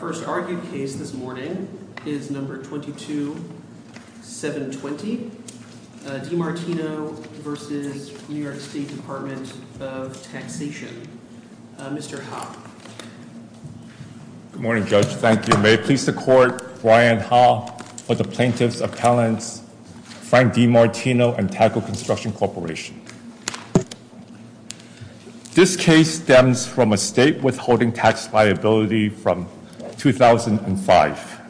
Our first argued case this morning is No. 22-720, Demartino v. New York State Department of Taxation. Mr. Ha. Good morning, Judge. Thank you. May it please the Court, Brian Ha for the Plaintiff's Appellants Frank Demartino and Taco Construction Corporation. This case stems from a state withholding tax liability from 2005.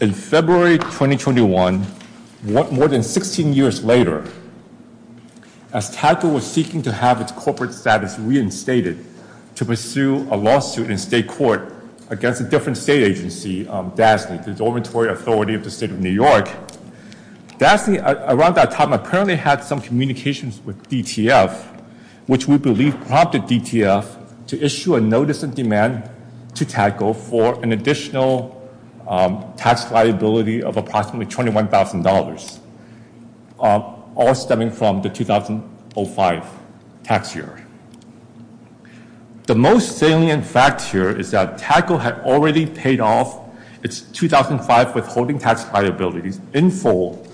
In February 2021, more than 16 years later, as Taco was seeking to have its corporate status reinstated to pursue a lawsuit in state court against a different state agency, DASNY, the dormitory authority of the State of New York, DASNY around that time apparently had some communications with DTF, which we believe prompted DTF to issue a notice of demand to Taco for an additional tax liability of approximately $21,000, all stemming from the 2005 tax year. The most salient fact here is that Taco had already paid off its 2005 withholding tax liabilities in full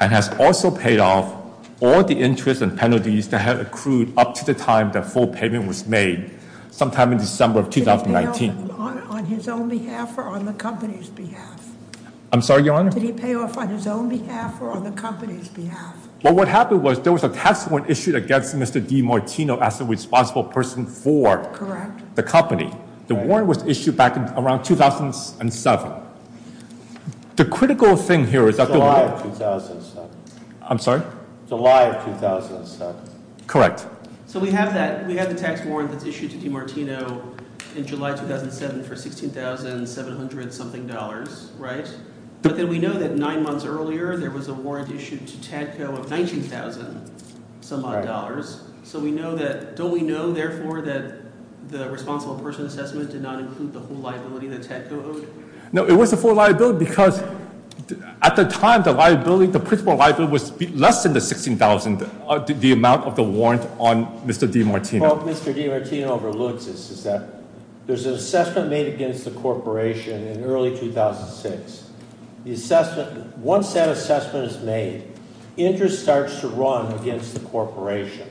and has also paid off all the interest and penalties that had accrued up to the time the full payment was made sometime in December of 2019. Did he pay off on his own behalf or on the company's behalf? I'm sorry, Your Honor? Did he pay off on his own behalf or on the company's behalf? Well, what happened was there was a tax warrant issued against Mr. DiMartino as the responsible person for the company. The warrant was issued back in around 2007. The critical thing here is that... July of 2007. I'm sorry? July of 2007. Correct. So we have that. We have the tax warrant that's issued to DiMartino in July 2007 for $16,700-something, right? But then we know that nine months earlier, there was a warrant issued to Tadco of $19,000-some odd dollars. So we know that... Don't we know, therefore, that the responsible person assessment did not include the whole liability that Tadco owed? No, it was the full liability because at the time, the liability, the principal liability was less than the $16,000, the amount of the warrant on Mr. DiMartino. What Mr. DiMartino overlooks is that there's an assessment made against the corporation in early 2006. Once that assessment is made, interest starts to run against the corporation.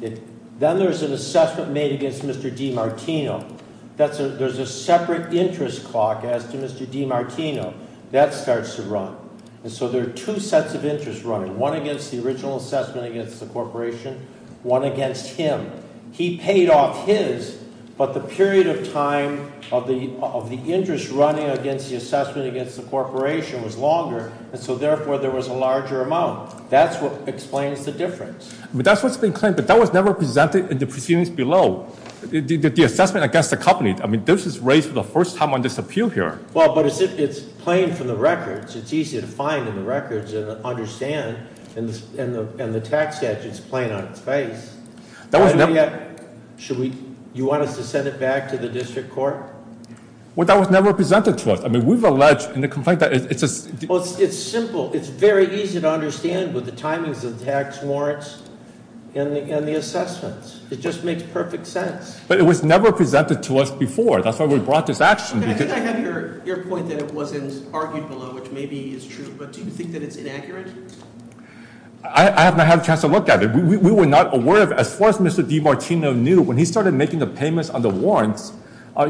Then there's an assessment made against Mr. DiMartino. There's a separate interest clock as to Mr. DiMartino. That starts to run. And so there are two sets of interest running, one against the original assessment against the corporation, one against him. He paid off his, but the period of time of the interest running against the assessment against the corporation was longer. And so, therefore, there was a larger amount. That's what explains the difference. But that's what's been claimed, but that was never presented in the proceedings below. The assessment against the company, I mean, this is raised for the first time on this appeal here. Well, but it's plain from the records. It's easy to find in the records and understand. And the tax statute's plain on its face. Should we, you want us to send it back to the district court? Well, that was never presented to us. I mean, we've alleged in the complaint that it's a- Well, it's simple. It's very easy to understand with the timings of the tax warrants and the assessments. It just makes perfect sense. But it was never presented to us before. That's why we brought this action. I think I have your point that it wasn't argued below, which maybe is true. But do you think that it's inaccurate? I have not had a chance to look at it. We were not aware of it. As far as Mr. DiMartino knew, when he started making the payments on the warrants,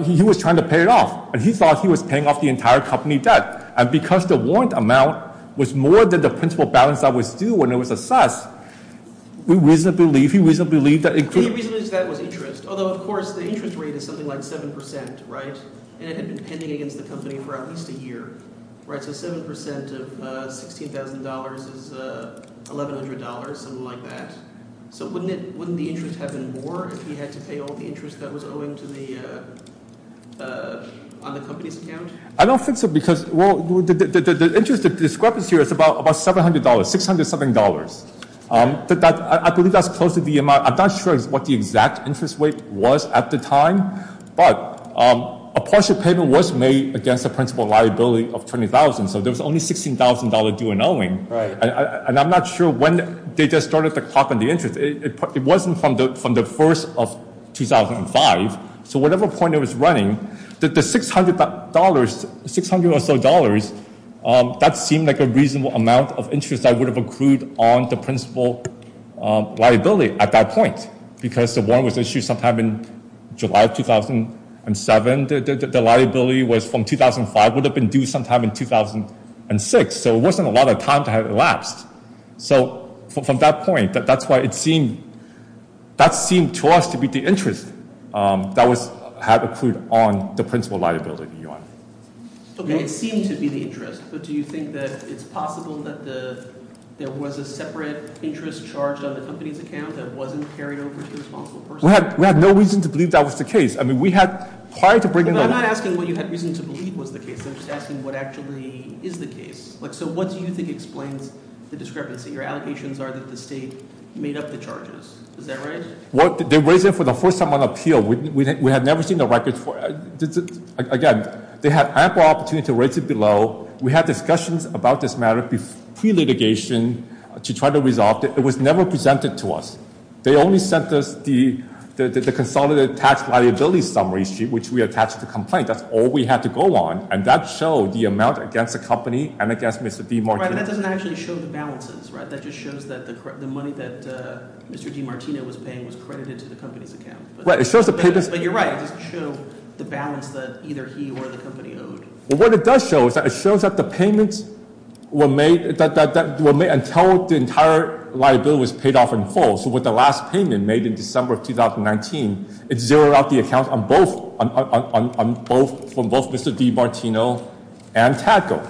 he was trying to pay it off. And he thought he was paying off the entire company debt. And because the warrant amount was more than the principal balance that was due when it was assessed, we reasonably believe that it could- He reasonably believes that it was interest. Although, of course, the interest rate is something like 7%, right? And it had been pending against the company for at least a year, right? So 7% of $16,000 is $1,100, something like that. So wouldn't the interest have been more if he had to pay all the interest that was owing to the- on the company's account? I don't think so because- well, the interest- the discrepancy here is about $700, $600-something. I believe that's close to the amount- I'm not sure what the exact interest rate was at the time. But a partial payment was made against the principal liability of $20,000. So there was only $16,000 due and owing. Right. And I'm not sure when they just started to clock on the interest. It wasn't from the 1st of 2005. So whatever point it was running, the $600-$600 or so dollars, that seemed like a reasonable amount of interest that would have accrued on the principal liability at that point. Because the warrant was issued sometime in July 2007. The liability was from 2005, would have been due sometime in 2006. So it wasn't a lot of time to have it elapsed. So from that point, that's why it seemed- that seemed to us to be the interest that was- had accrued on the principal liability, Your Honor. Okay, it seemed to be the interest. But do you think that it's possible that there was a separate interest charge on the company's account that wasn't carried over to the responsible person? We have no reason to believe that was the case. I mean, we had prior to bringing the- But I'm not asking what you had reason to believe was the case. I'm just asking what actually is the case. So what do you think explains the discrepancy? Your allegations are that the state made up the charges. Is that right? They raised it for the first time on appeal. We had never seen the records for it. Again, they had ample opportunity to raise it below. We had discussions about this matter pre-litigation to try to resolve it. It was never presented to us. They only sent us the consolidated tax liability summary sheet, which we attached to the complaint. That's all we had to go on. And that showed the amount against the company and against Mr. DiMartino. Right, but that doesn't actually show the balances, right? That just shows that the money that Mr. DiMartino was paying was credited to the company's account. But you're right. It doesn't show the balance that either he or the company owed. What it does show is that it shows that the payments were made until the entire liability was paid off in full. So with the last payment made in December of 2019, it zeroed out the account from both Mr. DiMartino and Tadco.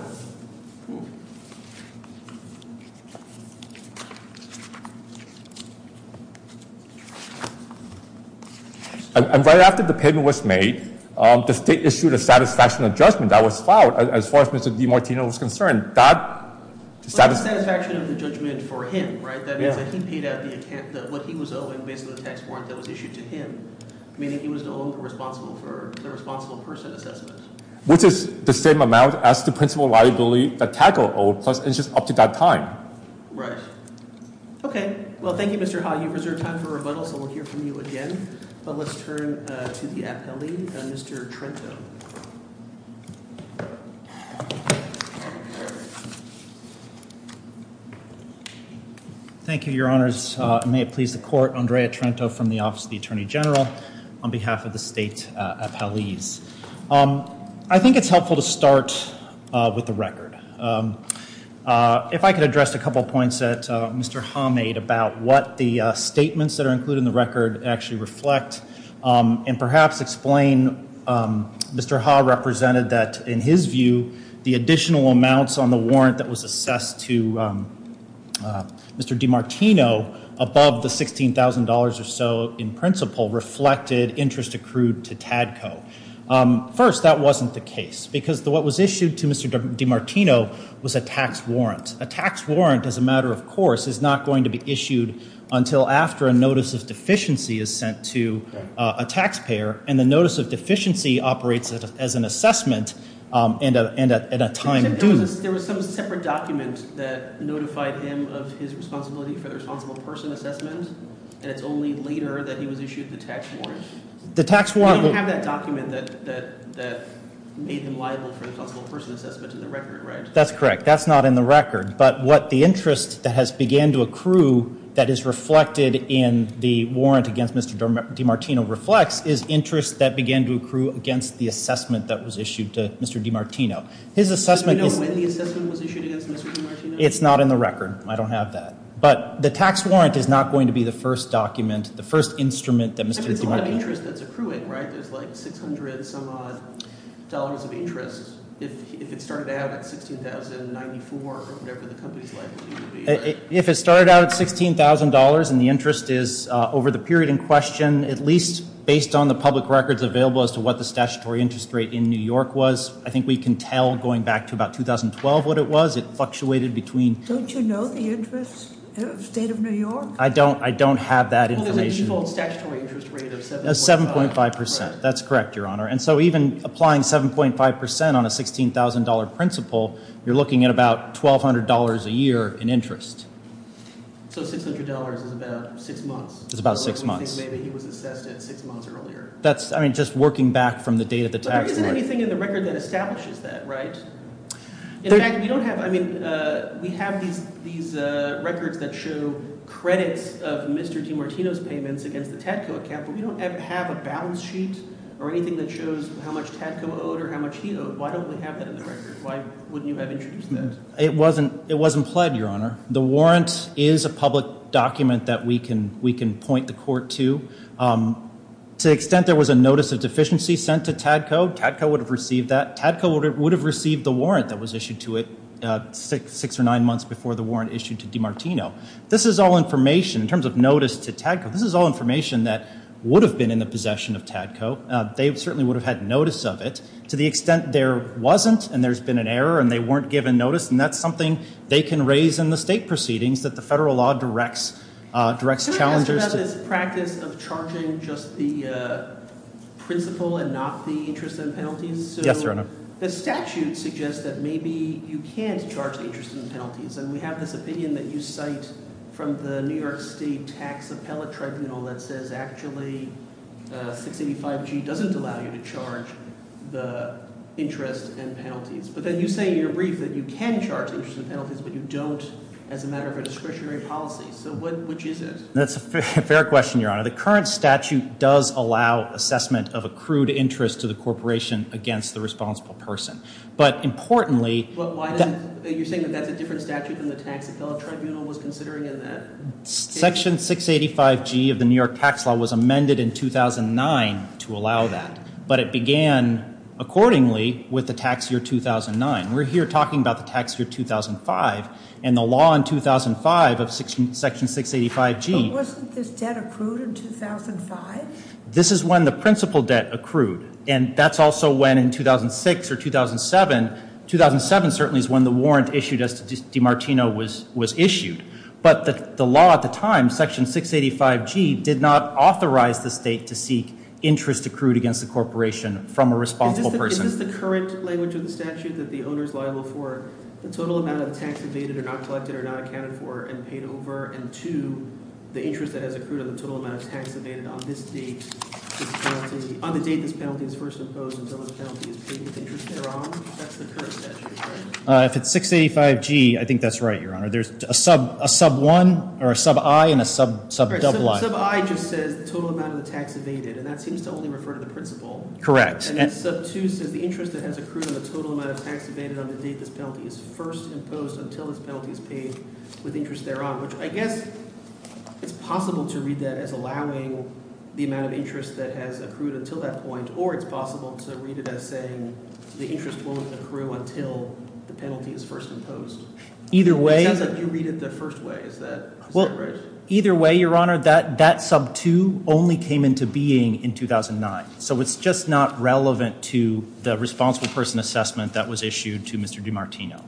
And right after the payment was made, the state issued a satisfaction of judgment that was filed as far as Mr. DiMartino was concerned. That satisfaction of the judgment for him, right? That means that he paid out what he was owing based on the tax warrant that was issued to him, meaning he was to owe the responsible person assessment. Which is the same amount as the principal liability that Tadco owed, plus it's just up to that time. Right. Okay. Well, thank you, Mr. Ha. You've reserved time for rebuttal, so we'll hear from you again. But let's turn to the appellee, Mr. Trento. Thank you, Your Honors. May it please the Court. Andrea Trento from the Office of the Attorney General on behalf of the state appellees. I think it's helpful to start with the record. If I could address a couple of points that Mr. Ha made about what the statements that are included in the record actually reflect. And perhaps explain Mr. Ha represented that in his view, the additional amounts on the warrant that was assessed to Mr. DiMartino above the $16,000 or so in principle reflected interest accrued to Tadco. First, that wasn't the case. Because what was issued to Mr. DiMartino was a tax warrant. A tax warrant, as a matter of course, is not going to be issued until after a notice of deficiency is sent to a taxpayer. And the notice of deficiency operates as an assessment and at a time due. There was some separate document that notified him of his responsibility for the responsible person assessment. And it's only later that he was issued the tax warrant. You have that document that made him liable for the responsible person assessment in the record, right? That's correct. That's not in the record. But what the interest that has began to accrue that is reflected in the warrant against Mr. DiMartino reflects is interest that began to accrue against the assessment that was issued to Mr. DiMartino. Do we know when the assessment was issued against Mr. DiMartino? It's not in the record. I don't have that. But the tax warrant is not going to be the first document, the first instrument that Mr. DiMartino- I mean, there's a lot of interest that's accruing, right? There's like $600 some odd of interest if it started out at $16,094 or whatever the company's liability would be. If it started out at $16,000 and the interest is over the period in question, at least based on the public records available as to what the statutory interest rate in New York was, I think we can tell going back to about 2012 what it was. It fluctuated between- State of New York? I don't have that information. Well, there's a default statutory interest rate of 7.5. 7.5 percent. That's correct, Your Honor. And so even applying 7.5 percent on a $16,000 principle, you're looking at about $1,200 a year in interest. So $600 is about six months? It's about six months. Or do we think maybe he was assessed at six months earlier? That's- I mean, just working back from the date of the tax warrant. But there isn't anything in the record that establishes that, right? In fact, we don't have- I mean, we have these records that show credits of Mr. DiMartino's payments against the Tadco account, but we don't have a balance sheet or anything that shows how much Tadco owed or how much he owed. Why don't we have that in the record? Why wouldn't you have introduced that? It wasn't pled, Your Honor. The warrant is a public document that we can point the court to. To the extent there was a notice of deficiency sent to Tadco, Tadco would have received that. Tadco would have received the warrant that was issued to it six or nine months before the warrant issued to DiMartino. This is all information. In terms of notice to Tadco, this is all information that would have been in the possession of Tadco. They certainly would have had notice of it. To the extent there wasn't and there's been an error and they weren't given notice, and that's something they can raise in the state proceedings that the federal law directs challengers to- Yes, Your Honor. The statute suggests that maybe you can't charge interest and penalties, and we have this opinion that you cite from the New York State Tax Appellate Tribunal that says actually 685G doesn't allow you to charge the interest and penalties. But then you say in your brief that you can charge interest and penalties, but you don't as a matter of a discretionary policy. So which is it? That's a fair question, Your Honor. The current statute does allow assessment of accrued interest to the corporation against the responsible person. But importantly- But why didn't-you're saying that that's a different statute than the tax appellate tribunal was considering in that- Section 685G of the New York tax law was amended in 2009 to allow that. But it began accordingly with the tax year 2009. We're here talking about the tax year 2005, and the law in 2005 of section 685G- This is when the principal debt accrued, and that's also when in 2006 or 2007-2007 certainly is when the warrant issued as to DiMartino was issued. But the law at the time, section 685G, did not authorize the state to seek interest accrued against the corporation from a responsible person. Is this the current language of the statute, that the owner is liable for the total amount of tax evaded or not collected or not accounted for and paid over, and, two, the interest that has accrued on the total amount of tax evaded on this date-on the date this penalty is first imposed until the penalty is paid with interest thereon? That's the current statute, right? If it's 685G, I think that's right, Your Honor. There's a sub-1 or a sub-i and a sub-double i. Sub-i just says the total amount of the tax evaded, and that seems to only refer to the principal. Correct. And then sub-2 says the interest that has accrued on the total amount of tax evaded on the date this penalty is first imposed until this penalty is paid with interest thereon, which I guess it's possible to read that as allowing the amount of interest that has accrued until that point, or it's possible to read it as saying the interest won't accrue until the penalty is first imposed. It sounds like you read it the first way. Is that right? Either way, Your Honor, that sub-2 only came into being in 2009, so it's just not relevant to the responsible person assessment that was issued to Mr. DiMartino.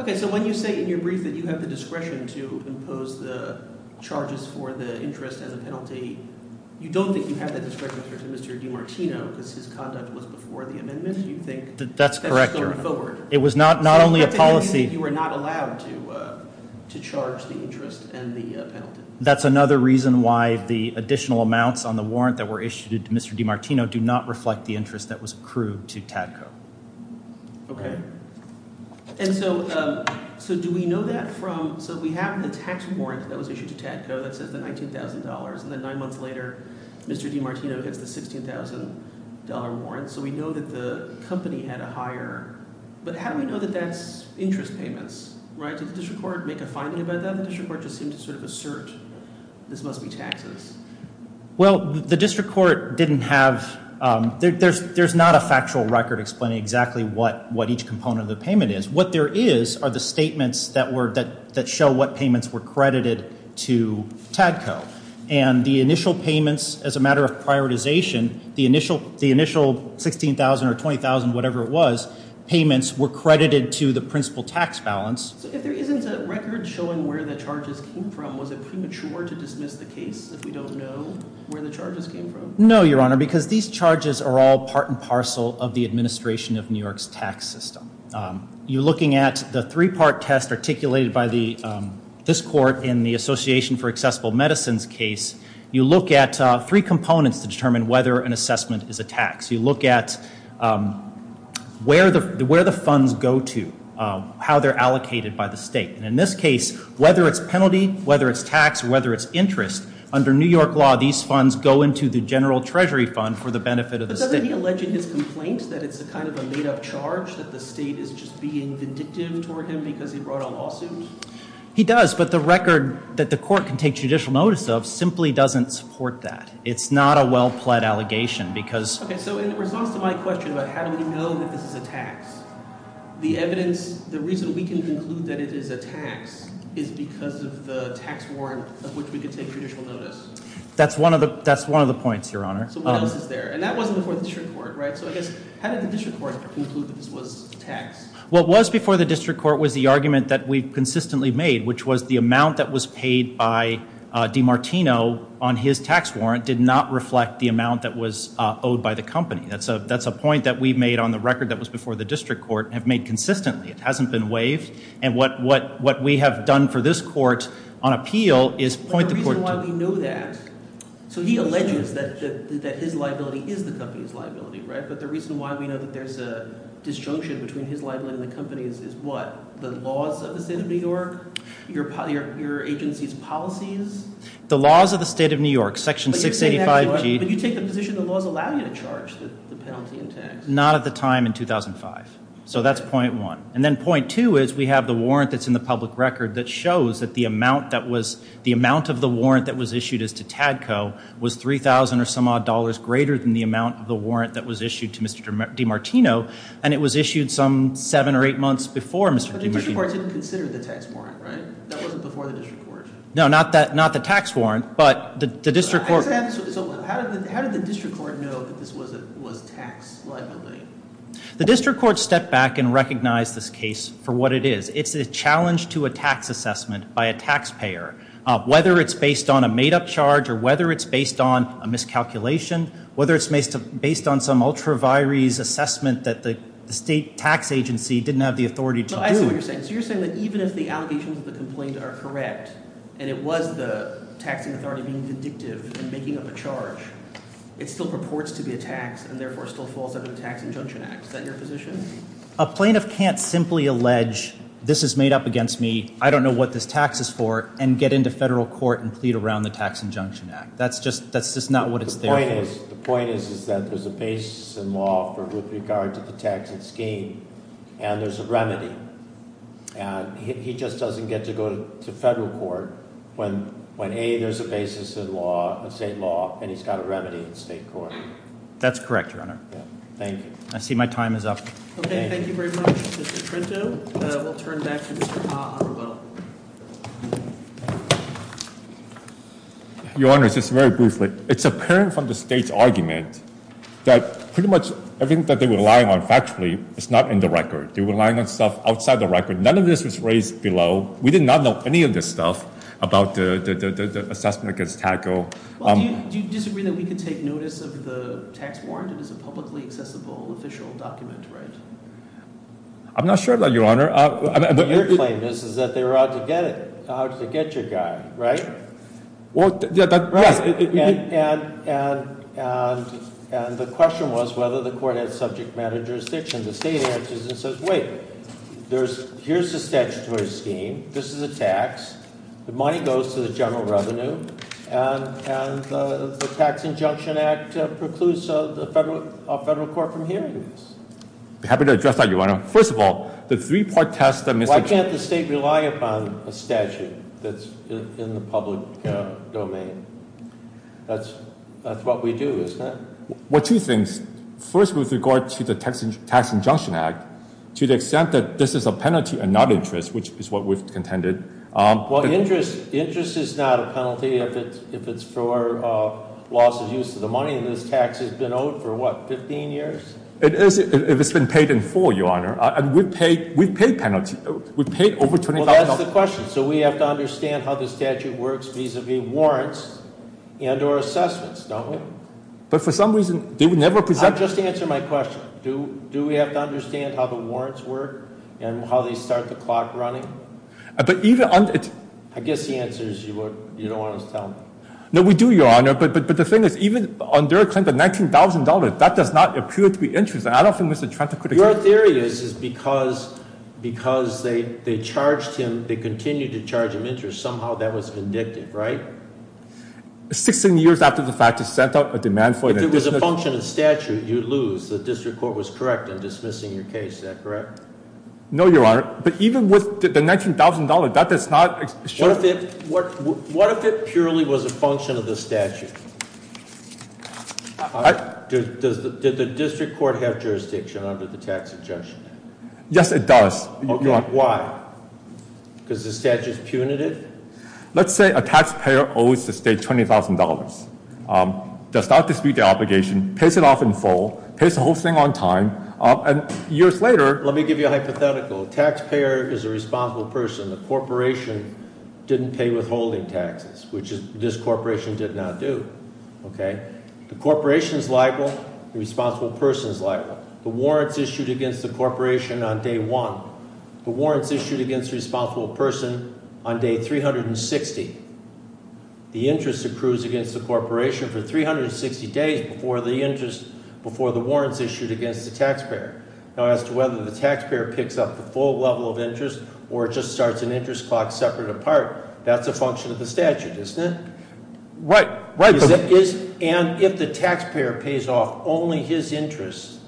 Okay, so when you say in your brief that you have the discretion to impose the charges for the interest as a penalty, you don't think you have that discretion compared to Mr. DiMartino because his conduct was before the amendment? That's correct, Your Honor. It was not only a policy. So you're not saying that you were not allowed to charge the interest and the penalty? That's another reason why the additional amounts on the warrant that were issued to Mr. DiMartino do not reflect the interest that was accrued to Tadco. Okay, and so do we know that from – so we have the tax warrant that was issued to Tadco that says the $19,000, and then nine months later Mr. DiMartino gets the $16,000 warrant, so we know that the company had a higher – but how do we know that that's interest payments? Did the district court make a finding about that? The district court just seemed to sort of assert this must be taxes. Well, the district court didn't have – there's not a factual record explaining exactly what each component of the payment is. What there is are the statements that show what payments were credited to Tadco, and the initial payments as a matter of prioritization, the initial $16,000 or $20,000, whatever it was, payments were credited to the principal tax balance. So if there isn't a record showing where the charges came from, was it premature to dismiss the case if we don't know where the charges came from? No, Your Honor, because these charges are all part and parcel of the administration of New York's tax system. You're looking at the three-part test articulated by this court in the Association for Accessible Medicine's case. You look at three components to determine whether an assessment is a tax. You look at where the funds go to, how they're allocated by the state. And in this case, whether it's penalty, whether it's tax, whether it's interest, under New York law, these funds go into the general treasury fund for the benefit of the state. But doesn't he allege in his complaint that it's kind of a made-up charge that the state is just being vindictive toward him because he brought a lawsuit? He does, but the record that the court can take judicial notice of simply doesn't support that. It's not a well-pled allegation because- Okay, so in response to my question about how do we know that this is a tax, the evidence, the reason we can conclude that it is a tax is because of the tax warrant of which we could take judicial notice. That's one of the points, Your Honor. So what else is there? And that wasn't before the district court, right? So I guess, how did the district court conclude that this was tax? What was before the district court was the argument that we've consistently made, which was the amount that was paid by DiMartino on his tax warrant did not reflect the amount that was owed by the company. That's a point that we've made on the record that was before the district court and have made consistently. It hasn't been waived, and what we have done for this court on appeal is point the court to- But the reason why we know that, so he alleges that his liability is the company's liability, right? But the reason why we know that there's a disjunction between his liability and the company's is what? The laws of the state of New York? Your agency's policies? The laws of the state of New York, Section 685G. But you take the position the laws allow you to charge the penalty in tax? Not at the time in 2005, so that's point one. And then point two is we have the warrant that's in the public record that shows that the amount that was- the amount of the warrant that was issued as to Tadco was $3,000 or some odd dollars greater than the amount of the warrant that was issued to Mr. DiMartino. And it was issued some seven or eight months before Mr. DiMartino- But the district court didn't consider the tax warrant, right? That wasn't before the district court. No, not the tax warrant, but the district court- So how did the district court know that this was tax liability? The district court stepped back and recognized this case for what it is. It's a challenge to a tax assessment by a taxpayer, whether it's based on a made-up charge or whether it's based on a miscalculation, whether it's based on some ultra-vires assessment that the state tax agency didn't have the authority to do. I see what you're saying. So you're saying that even if the allegations of the complaint are correct, and it was the taxing authority being vindictive and making up a charge, it still purports to be a tax and therefore still falls under the Tax Injunction Act. Is that your position? A plaintiff can't simply allege this is made up against me, I don't know what this tax is for, and get into federal court and plead around the Tax Injunction Act. That's just not what it's there for. The point is that there's a basis in law with regard to the taxing scheme, and there's a remedy. He just doesn't get to go to federal court when, A, there's a basis in state law and he's got a remedy in state court. That's correct, Your Honor. Thank you. I see my time is up. Okay, thank you very much, Mr. Trinto. We'll turn back to Mr. Ha on the bill. Your Honor, just very briefly, it's apparent from the state's argument that pretty much everything that they were relying on factually is not in the record. They were relying on stuff outside the record. None of this was raised below. We did not know any of this stuff about the assessment against TACO. Do you disagree that we can take notice of the tax warrant? It is a publicly accessible official document, right? Your claim is that they were out to get your guy, right? Well, yes. And the question was whether the court had subject matter jurisdiction. The state answers and says, wait, here's the statutory scheme. This is a tax. The money goes to the general revenue, and the Tax Injunction Act precludes a federal court from hearing this. I'm happy to address that, Your Honor. First of all, the three-part test- Why can't the state rely upon a statute that's in the public domain? That's what we do, isn't it? Well, two things. First, with regard to the Tax Injunction Act, to the extent that this is a penalty and not interest, which is what we've contended- Well, interest is not a penalty if it's for losses used to the money. This tax has been owed for, what, 15 years? It is if it's been paid in full, Your Honor. And we've paid penalties. We've paid over $20,000. Well, that's the question. So we have to understand how the statute works vis-à-vis warrants and or assessments, don't we? But for some reason, they would never present- I'm just answering my question. Do we have to understand how the warrants work and how they start the clock running? But even on- I guess the answer is you don't want to tell me. No, we do, Your Honor. But the thing is, even on their claim, the $19,000, that does not appear to be interest. I don't think Mr. Trent could- Your theory is because they charged him, they continued to charge him interest, somehow that was vindictive, right? 16 years after the fact, it set out a demand for it. If it was a function of statute, you'd lose. The district court was correct in dismissing your case. Is that correct? No, Your Honor. But even with the $19,000, that does not- What if it purely was a function of the statute? Did the district court have jurisdiction under the tax adjustment? Yes, it does. Why? Because the statute's punitive? Let's say a taxpayer owes the state $20,000. Does not dispute the obligation, pays it off in full, pays the whole thing on time, and years later- Let me give you a hypothetical. A taxpayer is a responsible person. The corporation didn't pay withholding taxes, which this corporation did not do. The corporation's liable, the responsible person's liable. The warrant's issued against the corporation on day one. The warrant's issued against the responsible person on day 360. The interest accrues against the corporation for 360 days before the interest, before the warrant's issued against the taxpayer. Now, as to whether the taxpayer picks up the full level of interest or just starts an interest clock separate apart, that's a function of the statute, isn't it? Right. And if the taxpayer pays off only his interest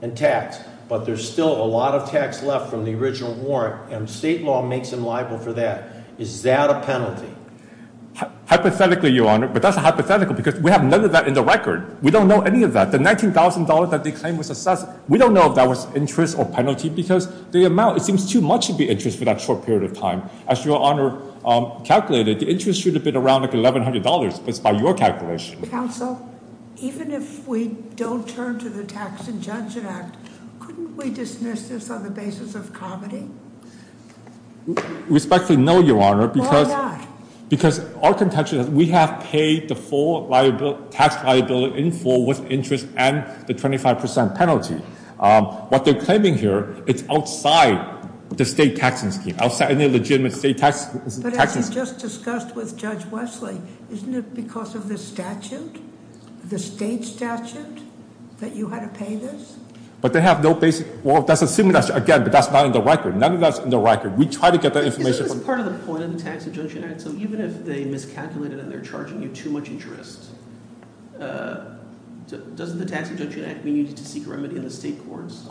in tax, but there's still a lot of tax left from the original warrant, and state law makes him liable for that, is that a penalty? Hypothetically, Your Honor, but that's a hypothetical because we have none of that in the record. We don't know any of that. The $19,000 that they claim was assessed, we don't know if that was interest or penalty because the amount, it seems too much to be interest for that short period of time. As Your Honor calculated, the interest should have been around $1,100 based on your calculation. Counsel, even if we don't turn to the Tax Injunction Act, couldn't we dismiss this on the basis of comedy? Respectfully, no, Your Honor. Why not? Because our contention is we have paid the full tax liability in full with interest and the 25% penalty. What they're claiming here, it's outside the state taxing scheme, outside any legitimate state taxing scheme. But as you just discussed with Judge Wesley, isn't it because of the statute, the state statute, that you had to pay this? But they have no basic, well, that's assuming that's, again, but that's not in the record. None of that's in the record. We try to get that information from- Counsel, even if they miscalculated and they're charging you too much interest, doesn't the Tax Injunction Act mean you need to seek remedy in the state courts?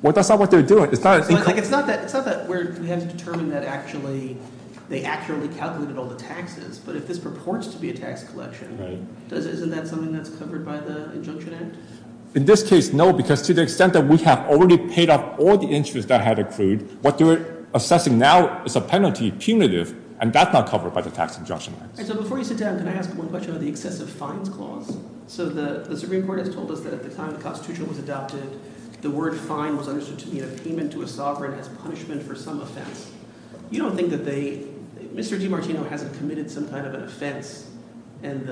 Well, that's not what they're doing. It's not that we have to determine that actually they accurately calculated all the taxes, but if this purports to be a tax collection, isn't that something that's covered by the Injunction Act? In this case, no, because to the extent that we have already paid off all the interest that had accrued, what they're assessing now is a penalty punitive, and that's not covered by the Tax Injunction Act. So before you sit down, can I ask one question about the excessive fines clause? So the Supreme Court has told us that at the time the Constitution was adopted, the word fine was understood to mean a payment to a sovereign as punishment for some offense. You don't think that they- Mr. DiMartino hasn't committed some kind of an offense, and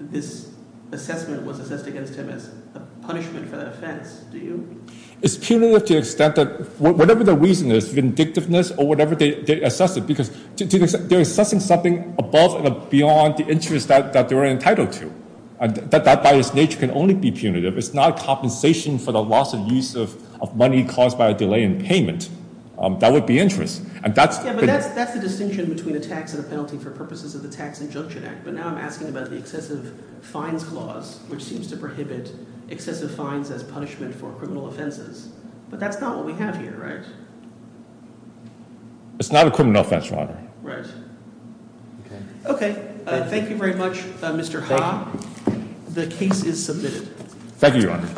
this assessment was assessed against him as a punishment for that offense, do you? It's punitive to the extent that whatever the reason is, vindictiveness or whatever, they assess it, because they're assessing something above and beyond the interest that they're entitled to. That, by its nature, can only be punitive. It's not compensation for the loss of use of money caused by a delay in payment. That would be interest. Yeah, but that's the distinction between a tax and a penalty for purposes of the Tax Injunction Act, but now I'm asking about the excessive fines clause, which seems to prohibit excessive fines as punishment for criminal offenses. But that's not what we have here, right? It's not a criminal offense, Your Honor. Right. Okay, thank you very much, Mr. Ha. The case is submitted. Thank you, Your Honor.